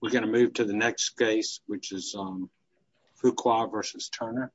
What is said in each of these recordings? we're going to move to the next case which is Fuqua v. Turner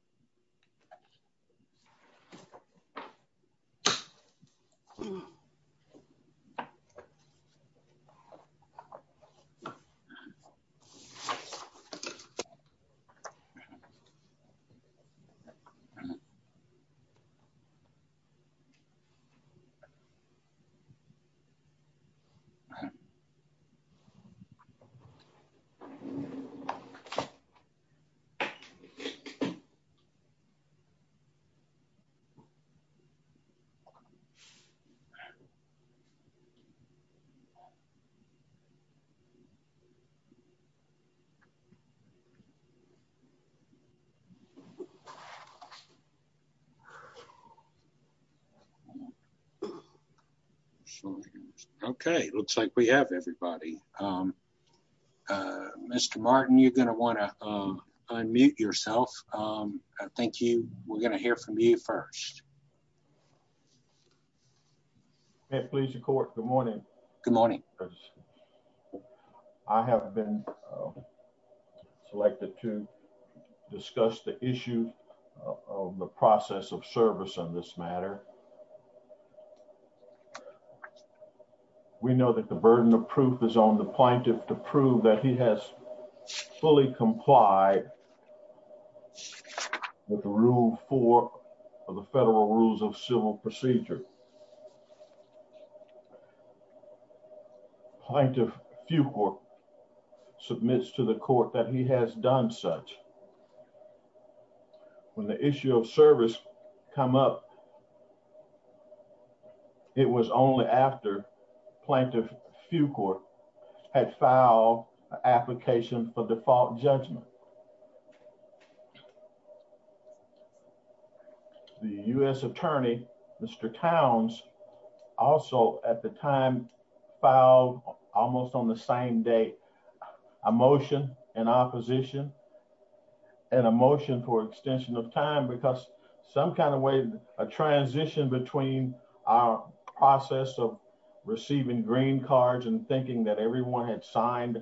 Okay, looks like we have everybody. Mr. Martin, you're going to want to unmute yourself. Thank you. We're going to hear from you first. Please record. Good morning. Good morning. I haven't been selected to discuss the issue of the process of service on this matter. We know that the burden of proof is on the plaintiff to prove that he has fully complied with the rule four of the federal rules of civil procedure. Plaintiff Fuqua submits to the court that he has done such. When the issue of service come up. It was only after plaintiff Fuqua had filed application for default judgment. The U.S. attorney, Mr. Towns, also at the time filed almost on the same day a motion in opposition and a motion for extension of time because some kind of way, a transition between our process of receiving green cards and thinking that everyone had signed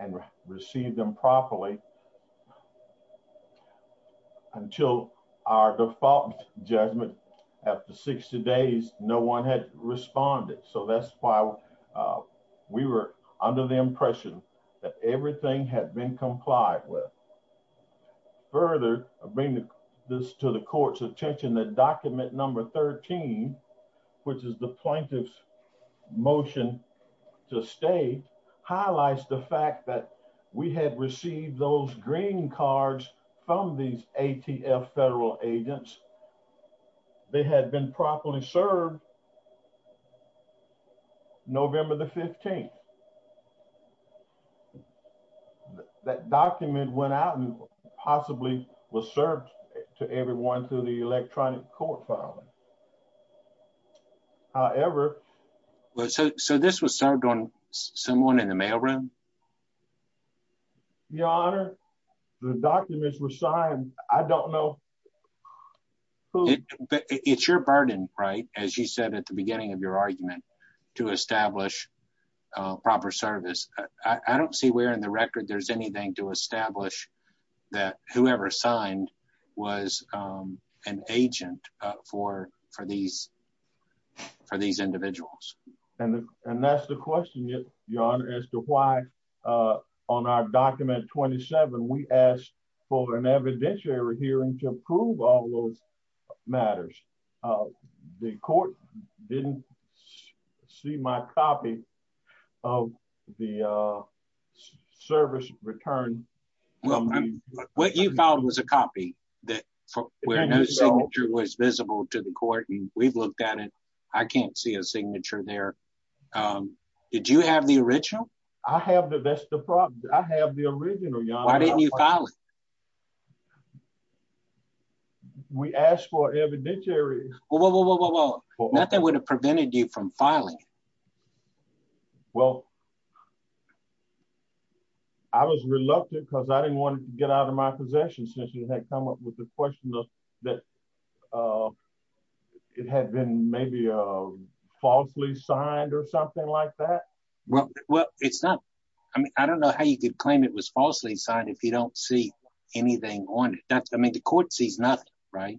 and received them properly. Until our default judgment after 60 days, no one had responded. So that's why we were under the impression that everything had been complied with. Further, I bring this to the court's attention that document number 13, which is the plaintiff's motion to stay, highlights the fact that we had received those green cards from these ATF federal agents. They had been properly served November the 15th. That document went out and possibly was served to everyone through the electronic court filing. However, so this was served on someone in the mail room. Your Honor, the documents were signed. I don't know. It's your burden, right, as you said at the beginning of your argument, to establish proper service. I don't see where in the record there's anything to establish that whoever signed was an agent for these individuals. And that's the question, Your Honor, as to why on our document 27 we asked for an evidentiary hearing to prove all those matters. The court didn't see my copy of the service return. What you found was a copy where no signature was visible to the court and we've looked at it. I can't see a signature there. Did you have the original? I have the original, Your Honor. Why didn't you file it? We asked for evidentiary. Nothing would have prevented you from filing it. Well, I was reluctant because I didn't want to get out of my possession since you had come up with the question that it had been maybe falsely signed or something like that. Well, it's not. I mean, I don't know how you could claim it was falsely signed if you don't see anything on it. I mean, the court sees nothing, right?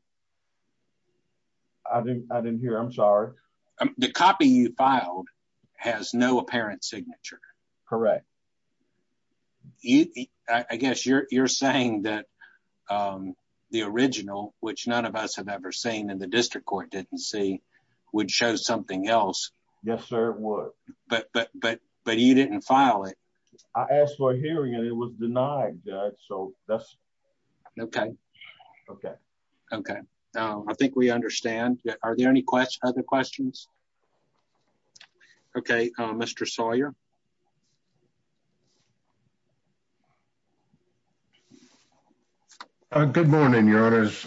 I didn't hear. I'm sorry. The copy you filed has no apparent signature. Correct. I guess you're saying that the original, which none of us have ever seen in the district court, didn't see would show something else. Yes, sir. But but but but you didn't file it. I asked for a hearing and it was denied. So that's OK. OK. OK, I think we understand. Are there any questions? Other questions? OK, Mr. Sawyer. Good morning, Your Honor's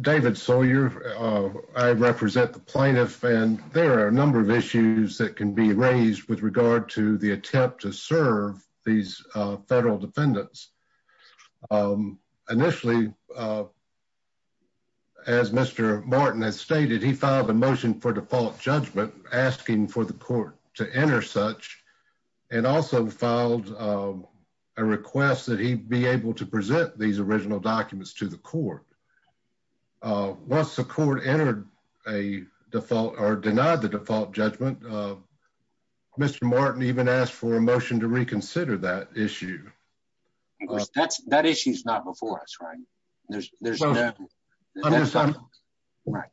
David Sawyer. I represent the plaintiff and there are a number of issues that can be raised with regard to the attempt to serve these federal defendants. Initially. As Mr. Martin has stated, he filed a motion for default judgment, asking for the court to enter such and also filed a request that he be able to present these original documents to the court. Once the court entered a default or denied the default judgment, Mr. Martin even asked for a motion to reconsider that issue. That's that issue is not before us. Right. Right.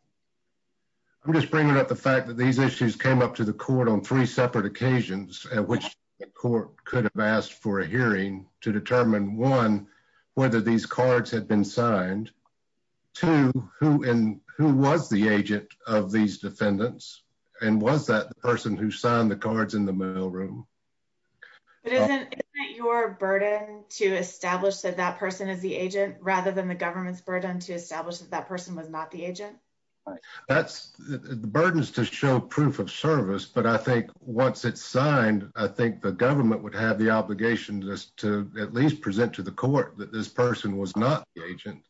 I'm just bringing up the fact that these issues came up to the court on three separate occasions at which the court could have asked for a hearing to determine one, whether these cards had been signed to who and who was the agent of these defendants. And was that the person who signed the cards in the mailroom? Isn't your burden to establish that that person is the agent rather than the government's burden to establish that that person was not the agent? That's the burden is to show proof of service. But I think once it's signed, I think the government would have the obligation to at least present to the court that this person was not the agent.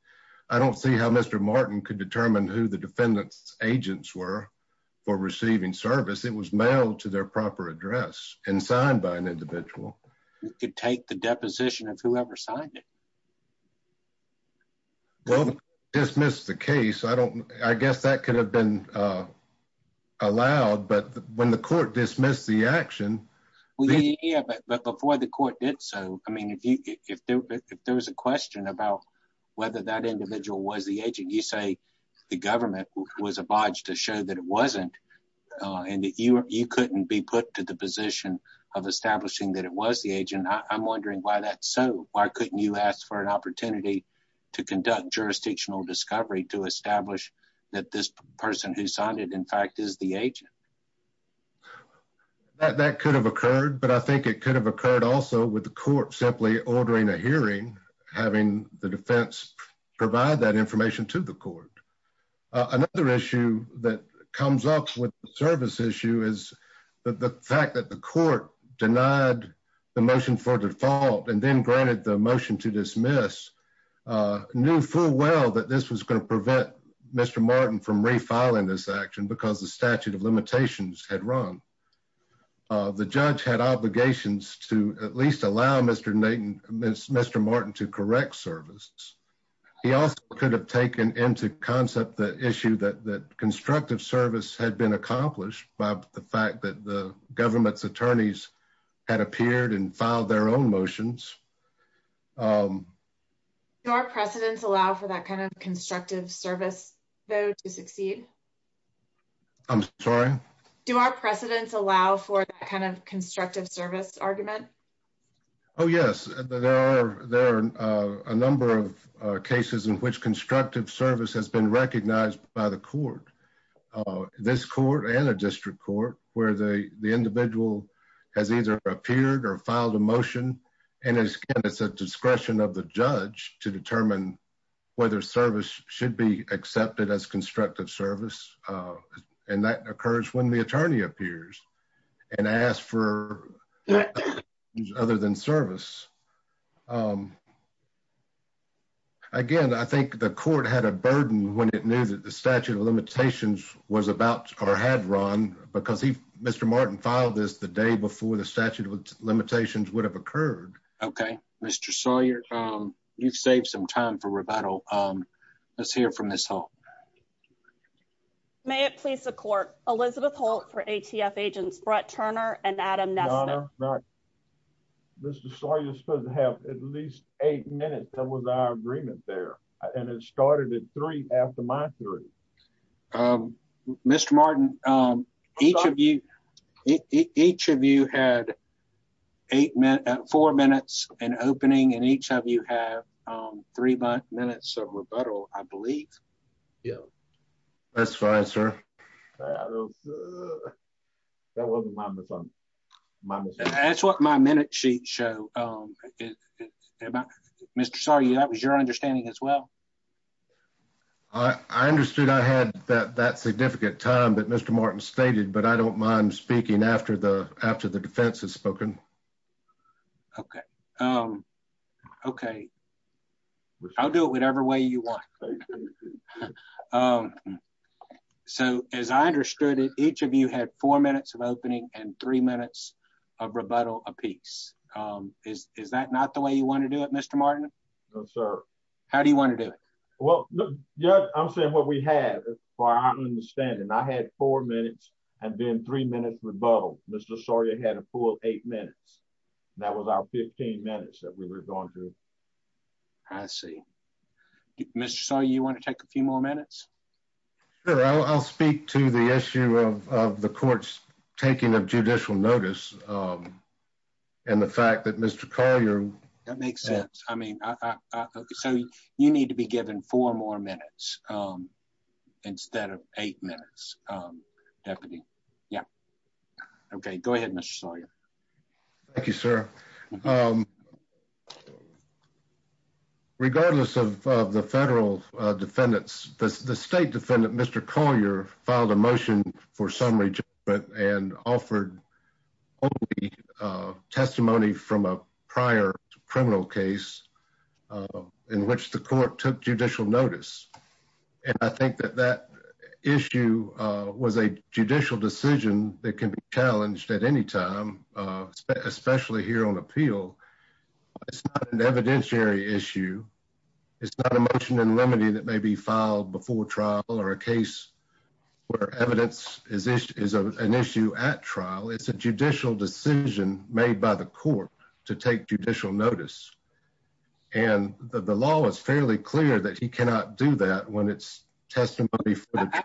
I don't see how Mr. Martin could determine who the defendant's agents were for receiving service. It was mailed to their proper address and signed by an individual. You could take the deposition of whoever signed it. Well, dismiss the case. I don't I guess that could have been allowed. But when the court dismissed the action. But before the court did so, I mean, if there was a question about whether that individual was the agent, you say the government was obliged to show that it wasn't. And you couldn't be put to the position of establishing that it was the agent. I'm wondering why that's so. Why couldn't you ask for an opportunity to conduct jurisdictional discovery to establish that this person who signed it, in fact, is the agent? That could have occurred, but I think it could have occurred also with the court simply ordering a hearing, having the defense provide that information to the court. Another issue that comes up with the service issue is that the fact that the court denied the motion for default and then granted the motion to dismiss knew full well that this was going to prevent Mr. Martin from refiling this action because the statute of limitations had run. The judge had obligations to at least allow Mr. Mr. Martin to correct service. He also could have taken into concept the issue that that constructive service had been accomplished by the fact that the government's attorneys had appeared and filed their own motions. Your precedents allow for that kind of constructive service, though, to succeed. I'm sorry. Do our precedents allow for that kind of constructive service argument. Oh, yes, there are. There are a number of cases in which constructive service has been recognized by the court. This court and a district court where the individual has either appeared or filed a motion, and it's a discretion of the judge to determine whether service should be accepted as constructive service. And that occurs when the attorney appears and ask for other than service. Again, I think the court had a burden when it knew that the statute of limitations was about or had run because he Mr. Martin filed this the day before the statute of limitations would have occurred. OK, Mr. Sawyer, you've saved some time for rebuttal. Let's hear from this. May it please the court. Elizabeth Holt for ATF agents, Brett Turner and Adam. Mr. Sawyer, you're supposed to have at least eight minutes. That was our agreement there. And it started at three after my three. Mr. Martin, each of you. Each of you had eight minutes, four minutes and opening and each of you have three minutes of rebuttal, I believe. Yeah, that's fine, sir. That's what my minute sheet show. Mr. Sawyer, that was your understanding as well. I understood I had that significant time that Mr. Martin stated, but I don't mind speaking after the after the defense has spoken. OK. OK. I'll do it whatever way you want. So, as I understood it, each of you had four minutes of opening and three minutes of rebuttal a piece. Is that not the way you want to do it, Mr. Martin? No, sir. How do you want to do it? Well, yeah, I'm saying what we had. I understand. And I had four minutes and then three minutes rebuttal. Mr. Sawyer had a full eight minutes. That was our 15 minutes that we were going to. I see. Mr. Sawyer, you want to take a few more minutes? I'll speak to the issue of the court's taking of judicial notice and the fact that Mr. Collier. That makes sense. I mean, so you need to be given four more minutes instead of eight minutes. Deputy. Yeah. OK, go ahead, Mr. Sawyer. Thank you, sir. Regardless of the federal defendants, the state defendant, Mr. Collier, filed a motion for summary judgment and offered testimony from a prior criminal case in which the court took judicial notice. And I think that that issue was a judicial decision that can be challenged at any time, especially here on appeal. It's not an evidentiary issue. It's not a motion in limine that may be filed before trial or a case where evidence is an issue at trial. It's a judicial decision made by the court to take judicial notice. And the law is fairly clear that he cannot do that when it's testimony.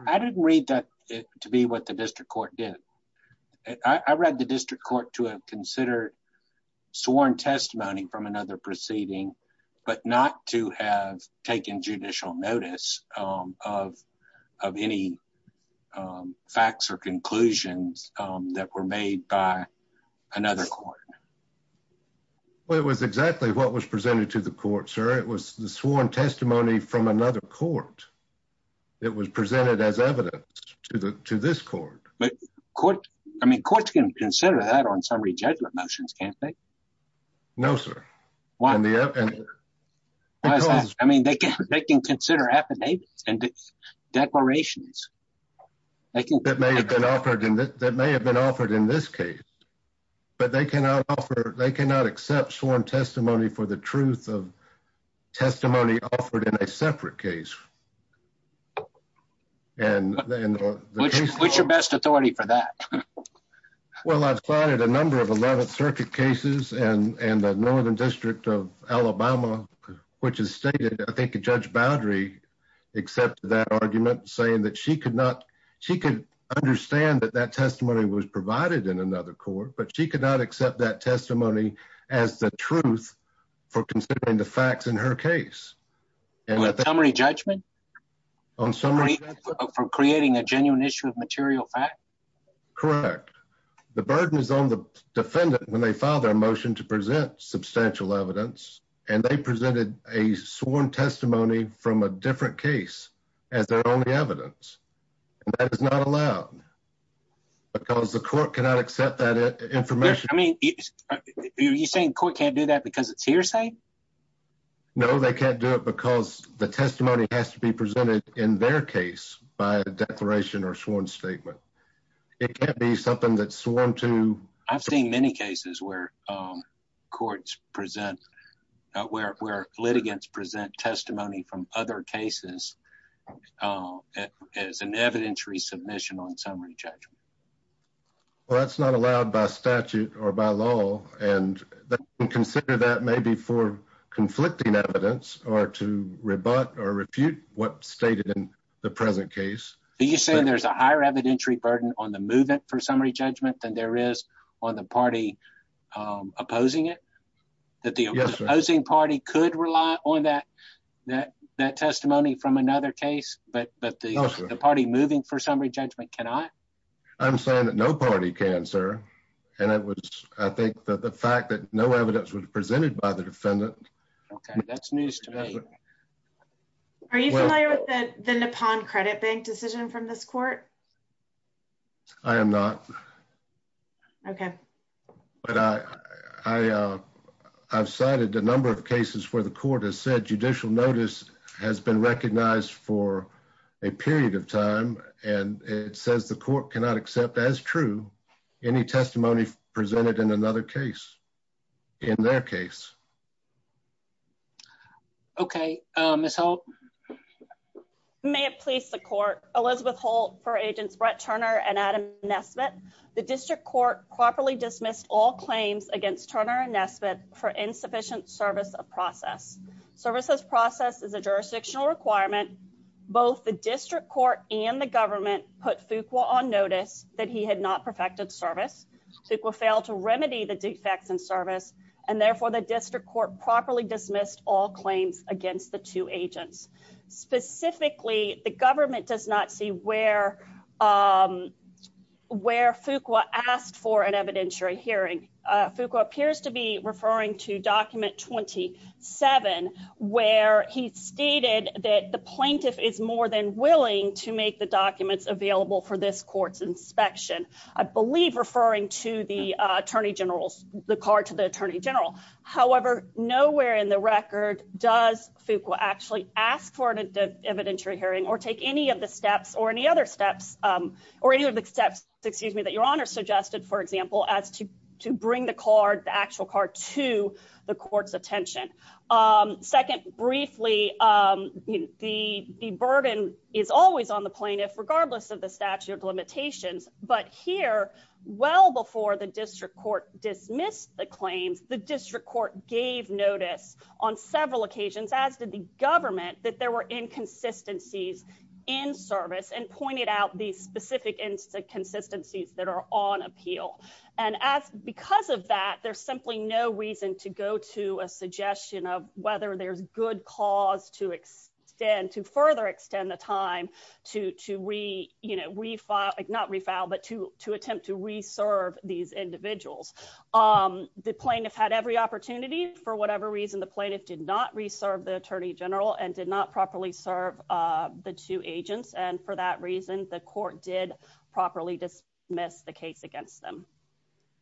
I didn't read that to be what the district court did. I read the district court to consider sworn testimony from another proceeding, but not to have taken judicial notice of of any facts or conclusions that were made by another court. Well, it was exactly what was presented to the court, sir. It was the sworn testimony from another court. It was presented as evidence to the to this court. But I mean, courts can consider that on summary judgment motions, can't they? No, sir. Why? I mean, they can consider affidavits and declarations. That may have been offered in this case. But they cannot accept sworn testimony for the truth of testimony offered in a separate case. What's your best authority for that? Well, I've plotted a number of 11th Circuit cases and the Northern District of Alabama, which is stated. I think Judge Boudry accepted that argument, saying that she could not. She could understand that that testimony was provided in another court, but she could not accept that testimony as the truth for considering the facts in her case. On summary judgment? On summary judgment. For creating a genuine issue of material fact? Correct. The burden is on the defendant when they file their motion to present substantial evidence. And they presented a sworn testimony from a different case as their only evidence. And that is not allowed. Because the court cannot accept that information. I mean, are you saying the court can't do that because it's hearsay? No, they can't do it because the testimony has to be presented in their case by a declaration or sworn statement. It can't be something that's sworn to. I've seen many cases where courts present, where litigants present testimony from other cases as an evidentiary submission on summary judgment. Well, that's not allowed by statute or by law. And consider that maybe for conflicting evidence or to rebut or refute what's stated in the present case. Are you saying there's a higher evidentiary burden on the movement for summary judgment than there is on the party opposing it? Yes, sir. That the opposing party could rely on that testimony from another case, but the party moving for summary judgment cannot? I'm saying that no party can, sir. And I think that the fact that no evidence was presented by the defendant... Okay, that's news to me. Are you familiar with the Nippon Credit Bank decision from this court? I am not. Okay. But I've cited a number of cases where the court has said judicial notice has been recognized for a period of time and it says the court cannot accept as true any testimony presented in another case, in their case. Okay, Ms. Holt. May it please the court, Elizabeth Holt for Agents Brett Turner and Adam Nesbitt. The district court properly dismissed all claims against Turner and Nesbitt for insufficient service of process. Service of process is a jurisdictional requirement. Both the district court and the government put Fuqua on notice that he had not perfected service. Fuqua failed to remedy the defects in service, and therefore the district court properly dismissed all claims against the two agents. Specifically, the government does not see where Fuqua asked for an evidentiary hearing. Fuqua appears to be referring to document 27, where he stated that the plaintiff is more than willing to make the documents available for this court's inspection. I believe referring to the Attorney General's, the card to the Attorney General. However, nowhere in the record does Fuqua actually ask for an evidentiary hearing or take any of the steps or any other steps, or any of the steps, excuse me, that Your Honor suggested, for example, as to bring the card, the actual card to the court's attention. Second, briefly, the burden is always on the plaintiff, regardless of the statute of limitations. But here, well before the district court dismissed the claims, the district court gave notice on several occasions, as did the government, that there were inconsistencies in service and pointed out these specific inconsistencies that are on appeal. And because of that, there's simply no reason to go to a suggestion of whether there's good cause to extend, to further extend the time to refile, not refile, but to attempt to reserve these individuals. The plaintiff had every opportunity. For whatever reason, the plaintiff did not reserve the Attorney General and did not properly serve the two agents. And for that reason, the court did properly dismiss the case against them.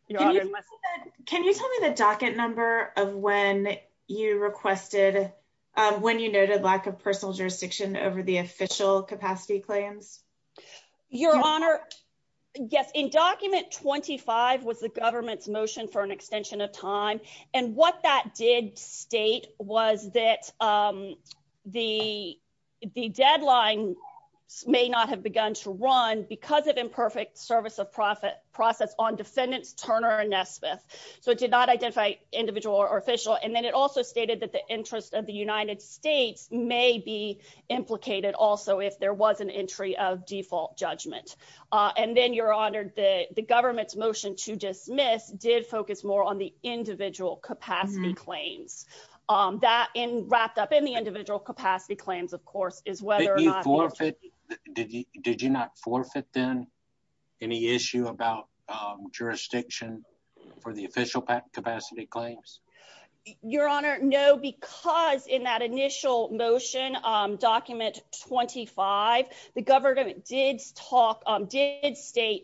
Can you tell me the docket number of when you requested, when you noted lack of personal jurisdiction over the official capacity claims? Your Honor, yes, in document 25 was the government's motion for an extension of time. And what that did state was that the deadline may not have begun to run because of imperfect service of process on defendants Turner and Nesbitt. So it did not identify individual or official. And then it also stated that the interest of the United States may be implicated also if there was an entry of default judgment. And then, Your Honor, the government's motion to dismiss did focus more on the individual capacity claims. That wrapped up in the individual capacity claims, of course, is whether or not... Did you not forfeit then any issue about jurisdiction for the official capacity claims? Your Honor, no, because in that initial motion document 25, the government did state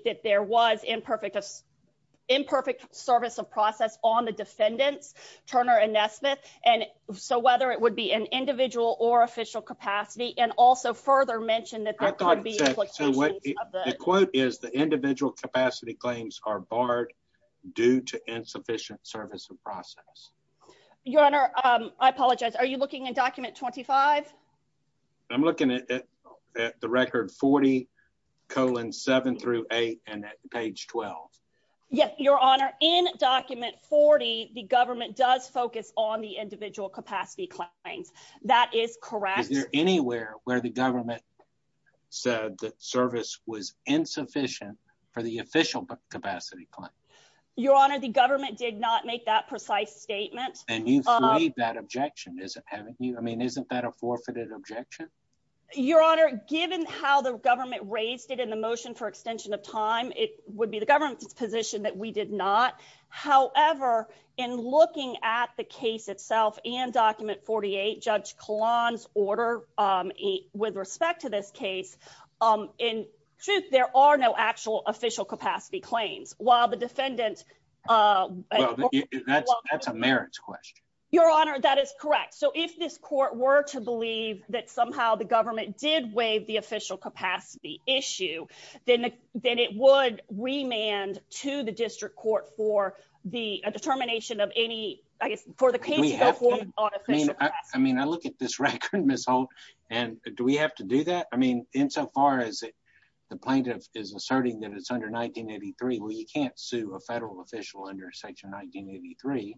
that there was imperfect service of process on the defendants, Turner and Nesbitt. And so whether it would be an individual or official capacity and also further mentioned that there could be... The quote is the individual capacity claims are barred due to insufficient service of process. Your Honor, I apologize. Are you looking in document 25? I'm looking at the record 40 colon 7 through 8 and at page 12. Yes, Your Honor. In document 40, the government does focus on the individual capacity claims. That is correct. Is there anywhere where the government said that service was insufficient for the official capacity claim? Your Honor, the government did not make that precise statement. And you've made that objection, haven't you? I mean, isn't that a forfeited objection? Your Honor, given how the government raised it in the motion for extension of time, it would be the government's position that we did not. However, in looking at the case itself and document 48, Judge Kahlon's order with respect to this case, in truth, there are no actual official capacity claims while the defendant... That's a merits question. Your Honor, that is correct. So if this court were to believe that somehow the government did waive the official capacity issue, then it would remand to the district court for the determination of any... I mean, I look at this record, Ms. Holt, and do we have to do that? I mean, insofar as the plaintiff is asserting that it's under 1983, we can't sue a federal official under Section 1983.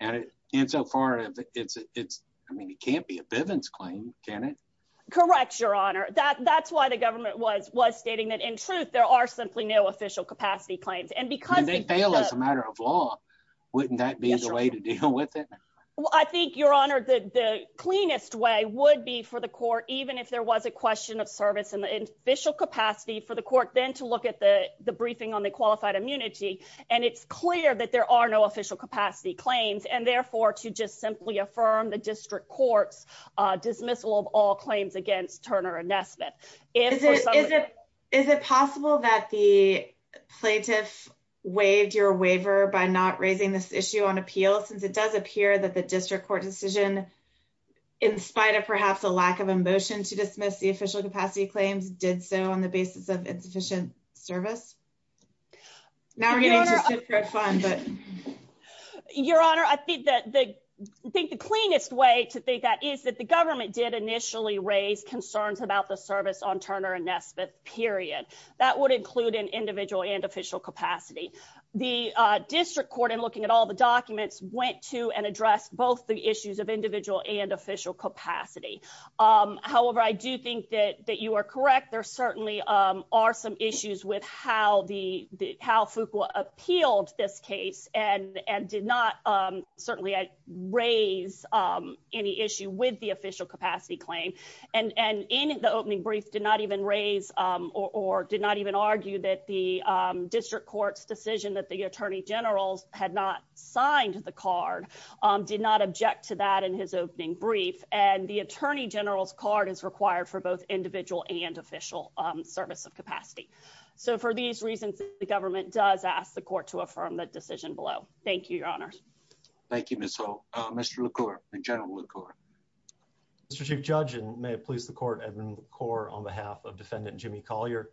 And insofar as it's... I mean, it can't be a Bivens claim, can it? Correct, Your Honor. That's why the government was stating that, in truth, there are simply no official capacity claims. And they fail as a matter of law. Wouldn't that be the way to deal with it? I think, Your Honor, the cleanest way would be for the court, even if there was a question of service in the official capacity, for the court then to look at the briefing on the qualified immunity. And it's clear that there are no official capacity claims, and therefore to just simply affirm the district court's dismissal of all claims against Turner and Nesbitt. Is it possible that the plaintiff waived your waiver by not raising this issue on appeal, since it does appear that the district court decision, in spite of perhaps a lack of emotion to dismiss the official capacity claims, did so on the basis of insufficient service? Now we're getting to the secret fund, but... Your Honor, I think the cleanest way to think that is that the government did initially raise concerns about the service on Turner and Nesbitt, period. That would include an individual and official capacity. The district court, in looking at all the documents, went to and addressed both the issues of individual and official capacity. However, I do think that you are correct. There certainly are some issues with how Fuqua appealed this case and did not certainly raise any issue with the official capacity claim. And in the opening brief, did not even raise or did not even argue that the district court's decision that the attorney generals had not signed the card, did not object to that in his opening brief. And the attorney general's card is required for both individual and official service of capacity. So for these reasons, the government does ask the court to affirm that decision below. Thank you, Your Honor. Thank you, Ms. Hall. Mr. LaCour, General LaCour. Mr. Chief Judge, and may it please the court, Edwin LaCour, on behalf of Defendant Jimmy Collier.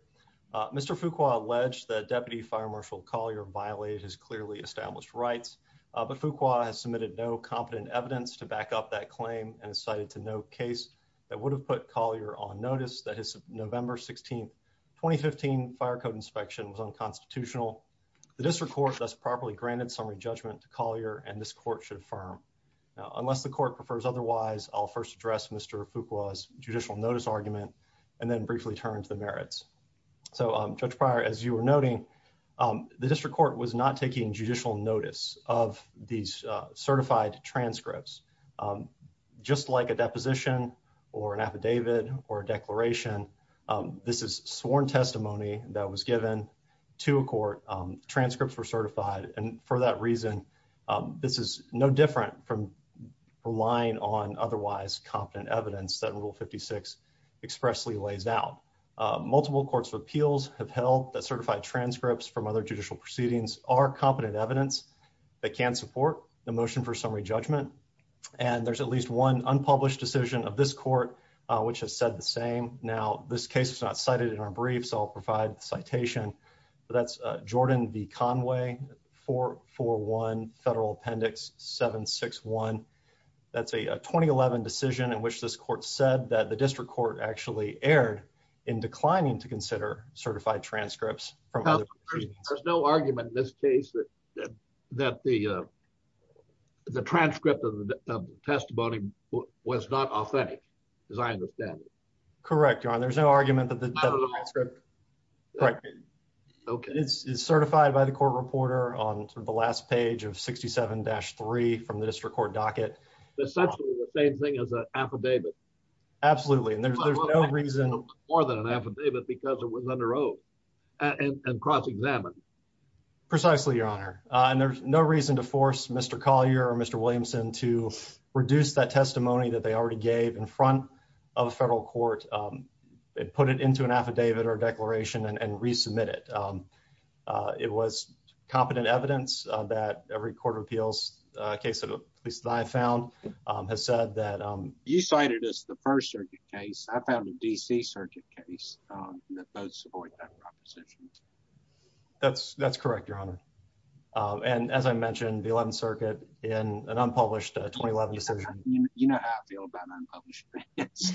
Mr. Fuqua alleged that Deputy Fire Marshal Collier violated his clearly established rights. But Fuqua has submitted no competent evidence to back up that claim and has cited to no case that would have put Collier on notice that his November 16, 2015 fire code inspection was unconstitutional. The district court thus properly granted summary judgment to Collier, and this court should affirm. Unless the court prefers otherwise, I'll first address Mr. Fuqua's judicial notice argument and then briefly turn to the merits. So, Judge Pryor, as you were noting, the district court was not taking judicial notice of these certified transcripts. Just like a deposition or an affidavit or a declaration, this is sworn testimony that was given to a court. Transcripts were certified, and for that reason, this is no different from relying on otherwise competent evidence that Rule 56 expressly lays out. Multiple courts of appeals have held that certified transcripts from other judicial proceedings are competent evidence that can support the motion for summary judgment. And there's at least one unpublished decision of this court which has said the same. Now, this case was not cited in our brief, so I'll provide the citation. That's Jordan v. Conway, 441 Federal Appendix 761. That's a 2011 decision in which this court said that the district court actually erred in declining to consider certified transcripts from other proceedings. There's no argument in this case that the transcript of the testimony was not authentic, as I understand it. Correct, Your Honor. There's no argument that the transcript... It's essentially the same thing as an affidavit. Absolutely, and there's no reason... More than an affidavit because it was under oath and cross-examined. Precisely, Your Honor. And there's no reason to force Mr. Collier or Mr. Williamson to reduce that testimony that they already gave in front of a federal court, put it into an affidavit or declaration, and resubmit it. It was competent evidence that every court of appeals case that I found has said that... You cited us the first circuit case. I found a D.C. circuit case that both support that proposition. That's correct, Your Honor. And as I mentioned, the 11th Circuit in an unpublished 2011 decision... You know how I feel about unpublished opinions.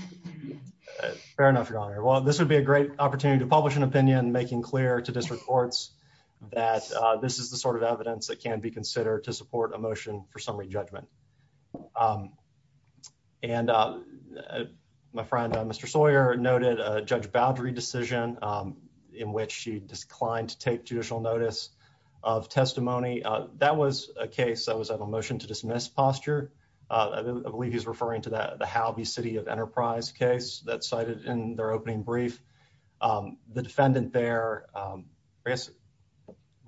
Fair enough, Your Honor. Well, this would be a great opportunity to publish an opinion, making clear to district courts that this is the sort of evidence that can be considered to support a motion for summary judgment. And my friend, Mr. Sawyer, noted a Judge Boudry decision in which she declined to take judicial notice of testimony. That was a case that was on a motion to dismiss posture. I believe he's referring to the Howby City of Enterprise case that cited in their opening brief. The defendant there...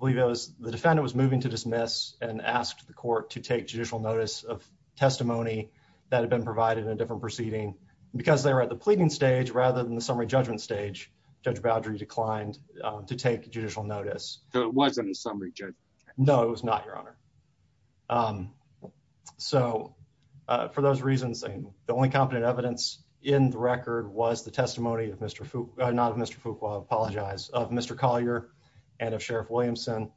I believe the defendant was moving to dismiss and asked the court to take judicial notice of testimony that had been provided in a different proceeding. Because they were at the pleading stage rather than the summary judgment stage, Judge Boudry declined to take judicial notice. So it wasn't a summary judgment? No, it was not, Your Honor. So, for those reasons, the only competent evidence in the record was the testimony of Mr. Fook... not of Mr. Fook, I apologize, of Mr. Collier and of Sheriff Williamson.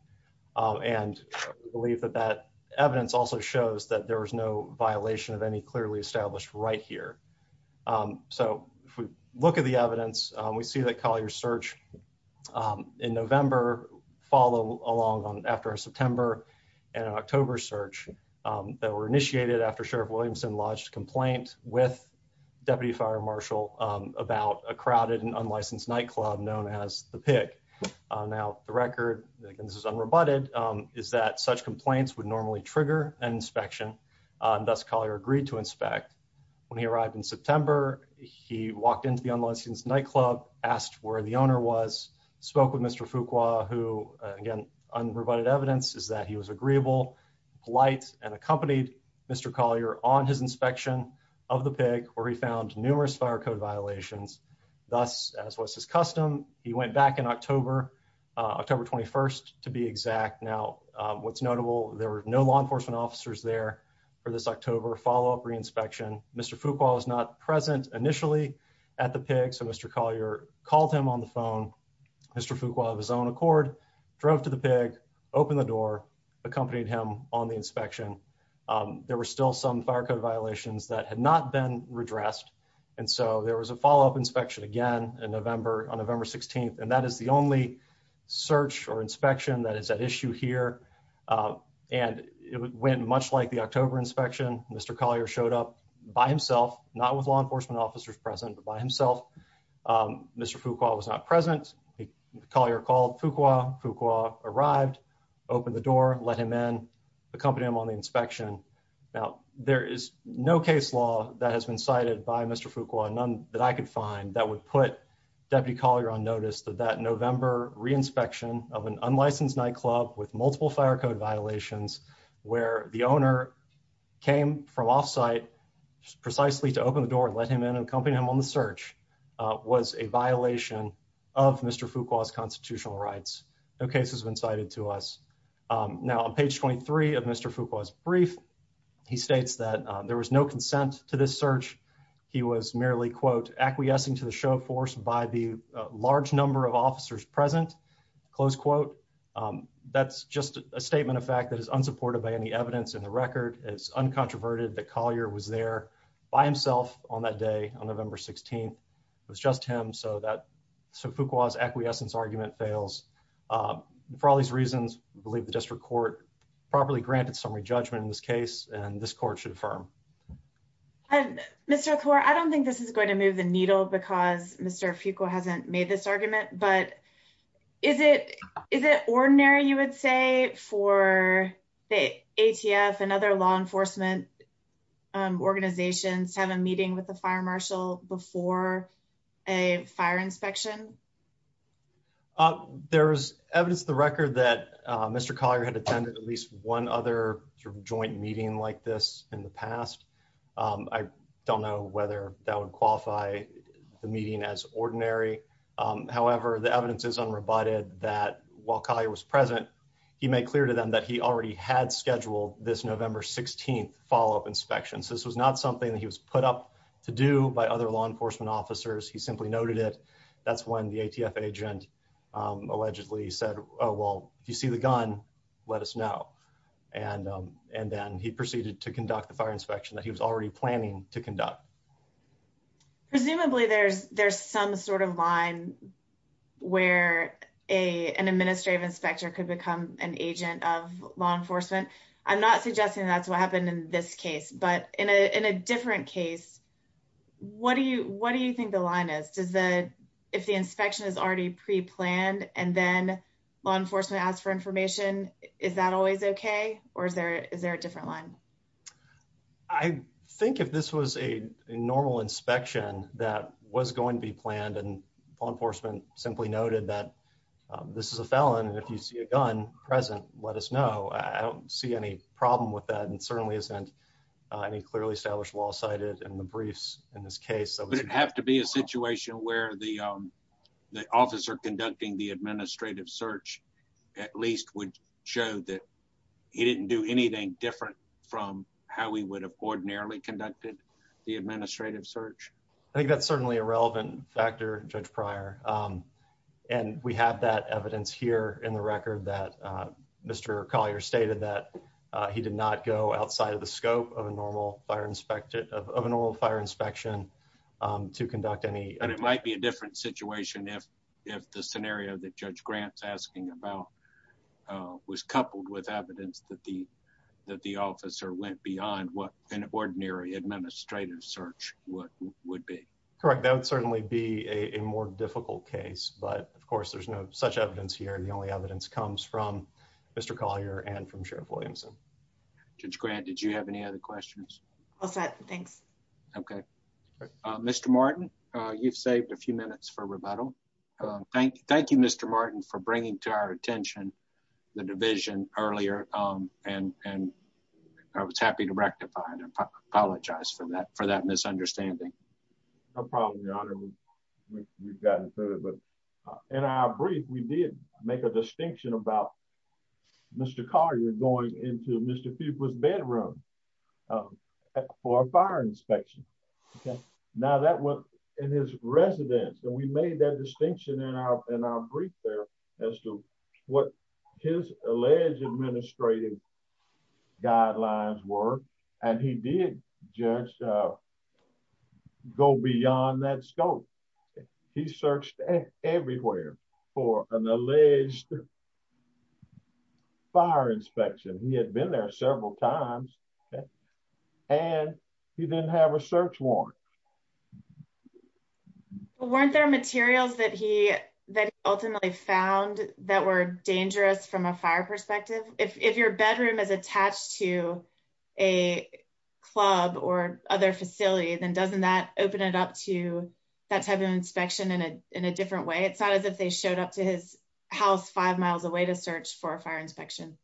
And I believe that that evidence also shows that there was no violation of any clearly established right here. So, if we look at the evidence, we see that Collier's search in November followed along after a September and October search that were initiated after Sheriff Williamson lodged a complaint with Deputy Fire Marshal about a crowded and unlicensed nightclub known as The Pick. Now, the record, again, this is unrebutted, is that such complaints would normally trigger an inspection. Thus, Collier agreed to inspect. When he arrived in September, he walked into the unlicensed nightclub, asked where the owner was, spoke with Mr. Fook, who, again, unrebutted evidence is that he was agreeable, polite, and accompanied Mr. Collier on his inspection of The Pick, where he found numerous fire code violations. Thus, as was his custom, he went back in October, October 21st, to be exact. Now, what's notable, there were no law enforcement officers there for this October follow-up re-inspection. Mr. Fook, while he was not present initially at The Pick, so Mr. Collier called him on the phone, Mr. Fook, while of his own accord, drove to The Pick, opened the door, accompanied him on the inspection. There were still some fire code violations that had not been redressed, and so there was a follow-up inspection again on November 16th, and that is the only search or inspection that is at issue here. And it went much like the October inspection. Mr. Collier showed up by himself, not with law enforcement officers present, but by himself. Mr. Fook, while he was not present, Collier called Fook, arrived, opened the door, let him in, accompanied him on the inspection. Now, there is no case law that has been cited by Mr. Fook, none that I could find, that would put Deputy Collier on notice of that November re-inspection of an unlicensed nightclub with multiple fire code violations, where the owner came from off-site precisely to open the door and let him in and accompany him on the search, was a violation of Mr. Fook's constitutional rights. No case has been cited to us. Now, on page 23 of Mr. Fook's brief, he states that there was no consent to this search. He was merely, quote, acquiescing to the show of force by the large number of officers present, close quote. That's just a statement of fact that is unsupported by any evidence in the record. It's uncontroverted that Collier was there by himself on that day, on November 16th. It was just him, so Fook's acquiescence argument fails. For all these reasons, we believe the district court properly granted summary judgment in this case, and this court should affirm. Mr. Okor, I don't think this is going to move the needle because Mr. Fook hasn't made this argument, but is it ordinary, you would say, for the ATF and other law enforcement organizations to have a meeting with the fire marshal before a fire inspection? There is evidence in the record that Mr. Collier had attended at least one other joint meeting like this in the past. I don't know whether that would qualify the meeting as ordinary. However, the evidence is unrebutted that while Collier was present, he made clear to them that he already had scheduled this November 16th follow-up inspection. This was not something that he was put up to do by other law enforcement officers. He simply noted it. That's when the ATF agent allegedly said, well, if you see the gun, let us know. Then he proceeded to conduct the fire inspection that he was already planning to conduct. Presumably, there's some sort of line where an administrative inspector could become an agent of law enforcement. I'm not suggesting that's what happened in this case, but in a different case, what do you think the line is? If the inspection is already pre-planned and then law enforcement asks for information, is that always okay, or is there a different line? I think if this was a normal inspection that was going to be planned and law enforcement simply noted that this is a felon and if you see a gun present, let us know. I don't see any problem with that and certainly isn't any clearly established law cited in the briefs in this case. Would it have to be a situation where the officer conducting the administrative search at least would show that he didn't do anything different from how he would have ordinarily conducted the administrative search? I think that's certainly a relevant factor, Judge Pryor, and we have that evidence here in the record that Mr. Collier stated that he did not go outside of the scope of a normal fire inspection to conduct any... Correct, that would certainly be a more difficult case, but of course there's no such evidence here. The only evidence comes from Mr. Collier and from Sheriff Williamson. Judge Grant, did you have any other questions? All set, thanks. Okay. Mr. Martin, you've saved a few minutes for rebuttal. Thank you, Mr. Martin, for bringing to our attention the division earlier and I was happy to rectify and apologize for that misunderstanding. No problem, Your Honor. We've gotten through it, but in our brief, we did make a distinction about Mr. Collier going into Mr. Fuqua's bedroom for a fire inspection. Now that was in his residence, and we made that distinction in our brief there as to what his alleged administrative guidelines were, and he did, Judge, go beyond that scope. He searched everywhere for an alleged fire inspection. He had been there several times, and he didn't have a search warrant. Weren't there materials that he ultimately found that were dangerous from a fire perspective? If your bedroom is attached to a club or other facility, then doesn't that open it up to that type of inspection in a different way? It's not as if they showed up to his house five miles away to search for a fire inspection.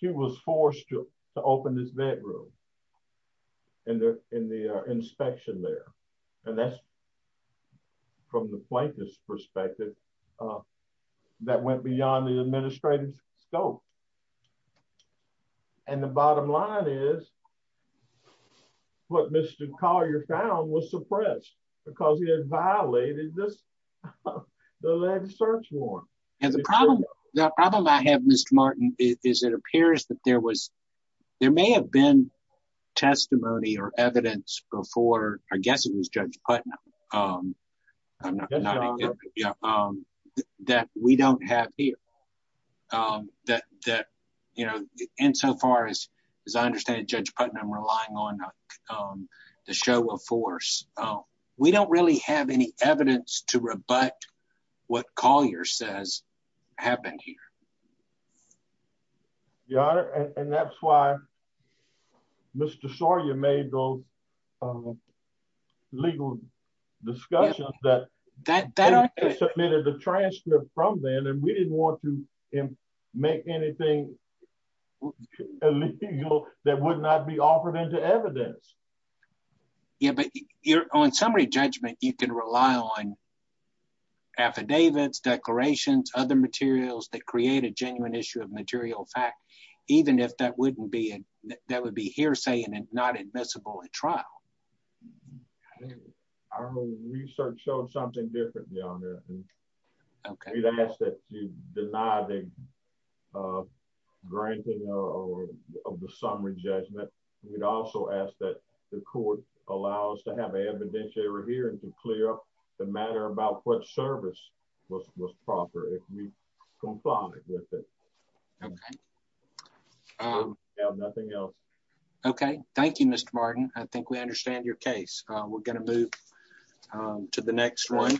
He was forced to open his bedroom in the inspection there, and that's, from the plaintiff's perspective, that went beyond the administrative scope. And the bottom line is what Mr. Collier found was suppressed because he had violated the alleged search warrant. The problem I have, Mr. Martin, is it appears that there may have been testimony or evidence before, I guess it was Judge Putnam, that we don't have here. Insofar as I understand it, Judge Putnam, relying on the show of force, we don't really have any evidence to rebut what Collier says happened here. Your Honor, and that's why Mr. Sawyer made those legal discussions that he submitted the transcript from then, and we didn't want to make anything illegal that would not be offered into evidence. Yeah, but on summary judgment, you can rely on affidavits, declarations, other materials that create a genuine issue of material fact, even if that would be hearsay and not admissible at trial. Our research showed something different, Your Honor. We'd ask that you deny the granting of the summary judgment. We'd also ask that the court allow us to have an evidentiary hearing to clear up the matter about what service was proper if we confounded with it. Okay, thank you, Mr. Martin. I think we understand your case. We're going to move to the next one.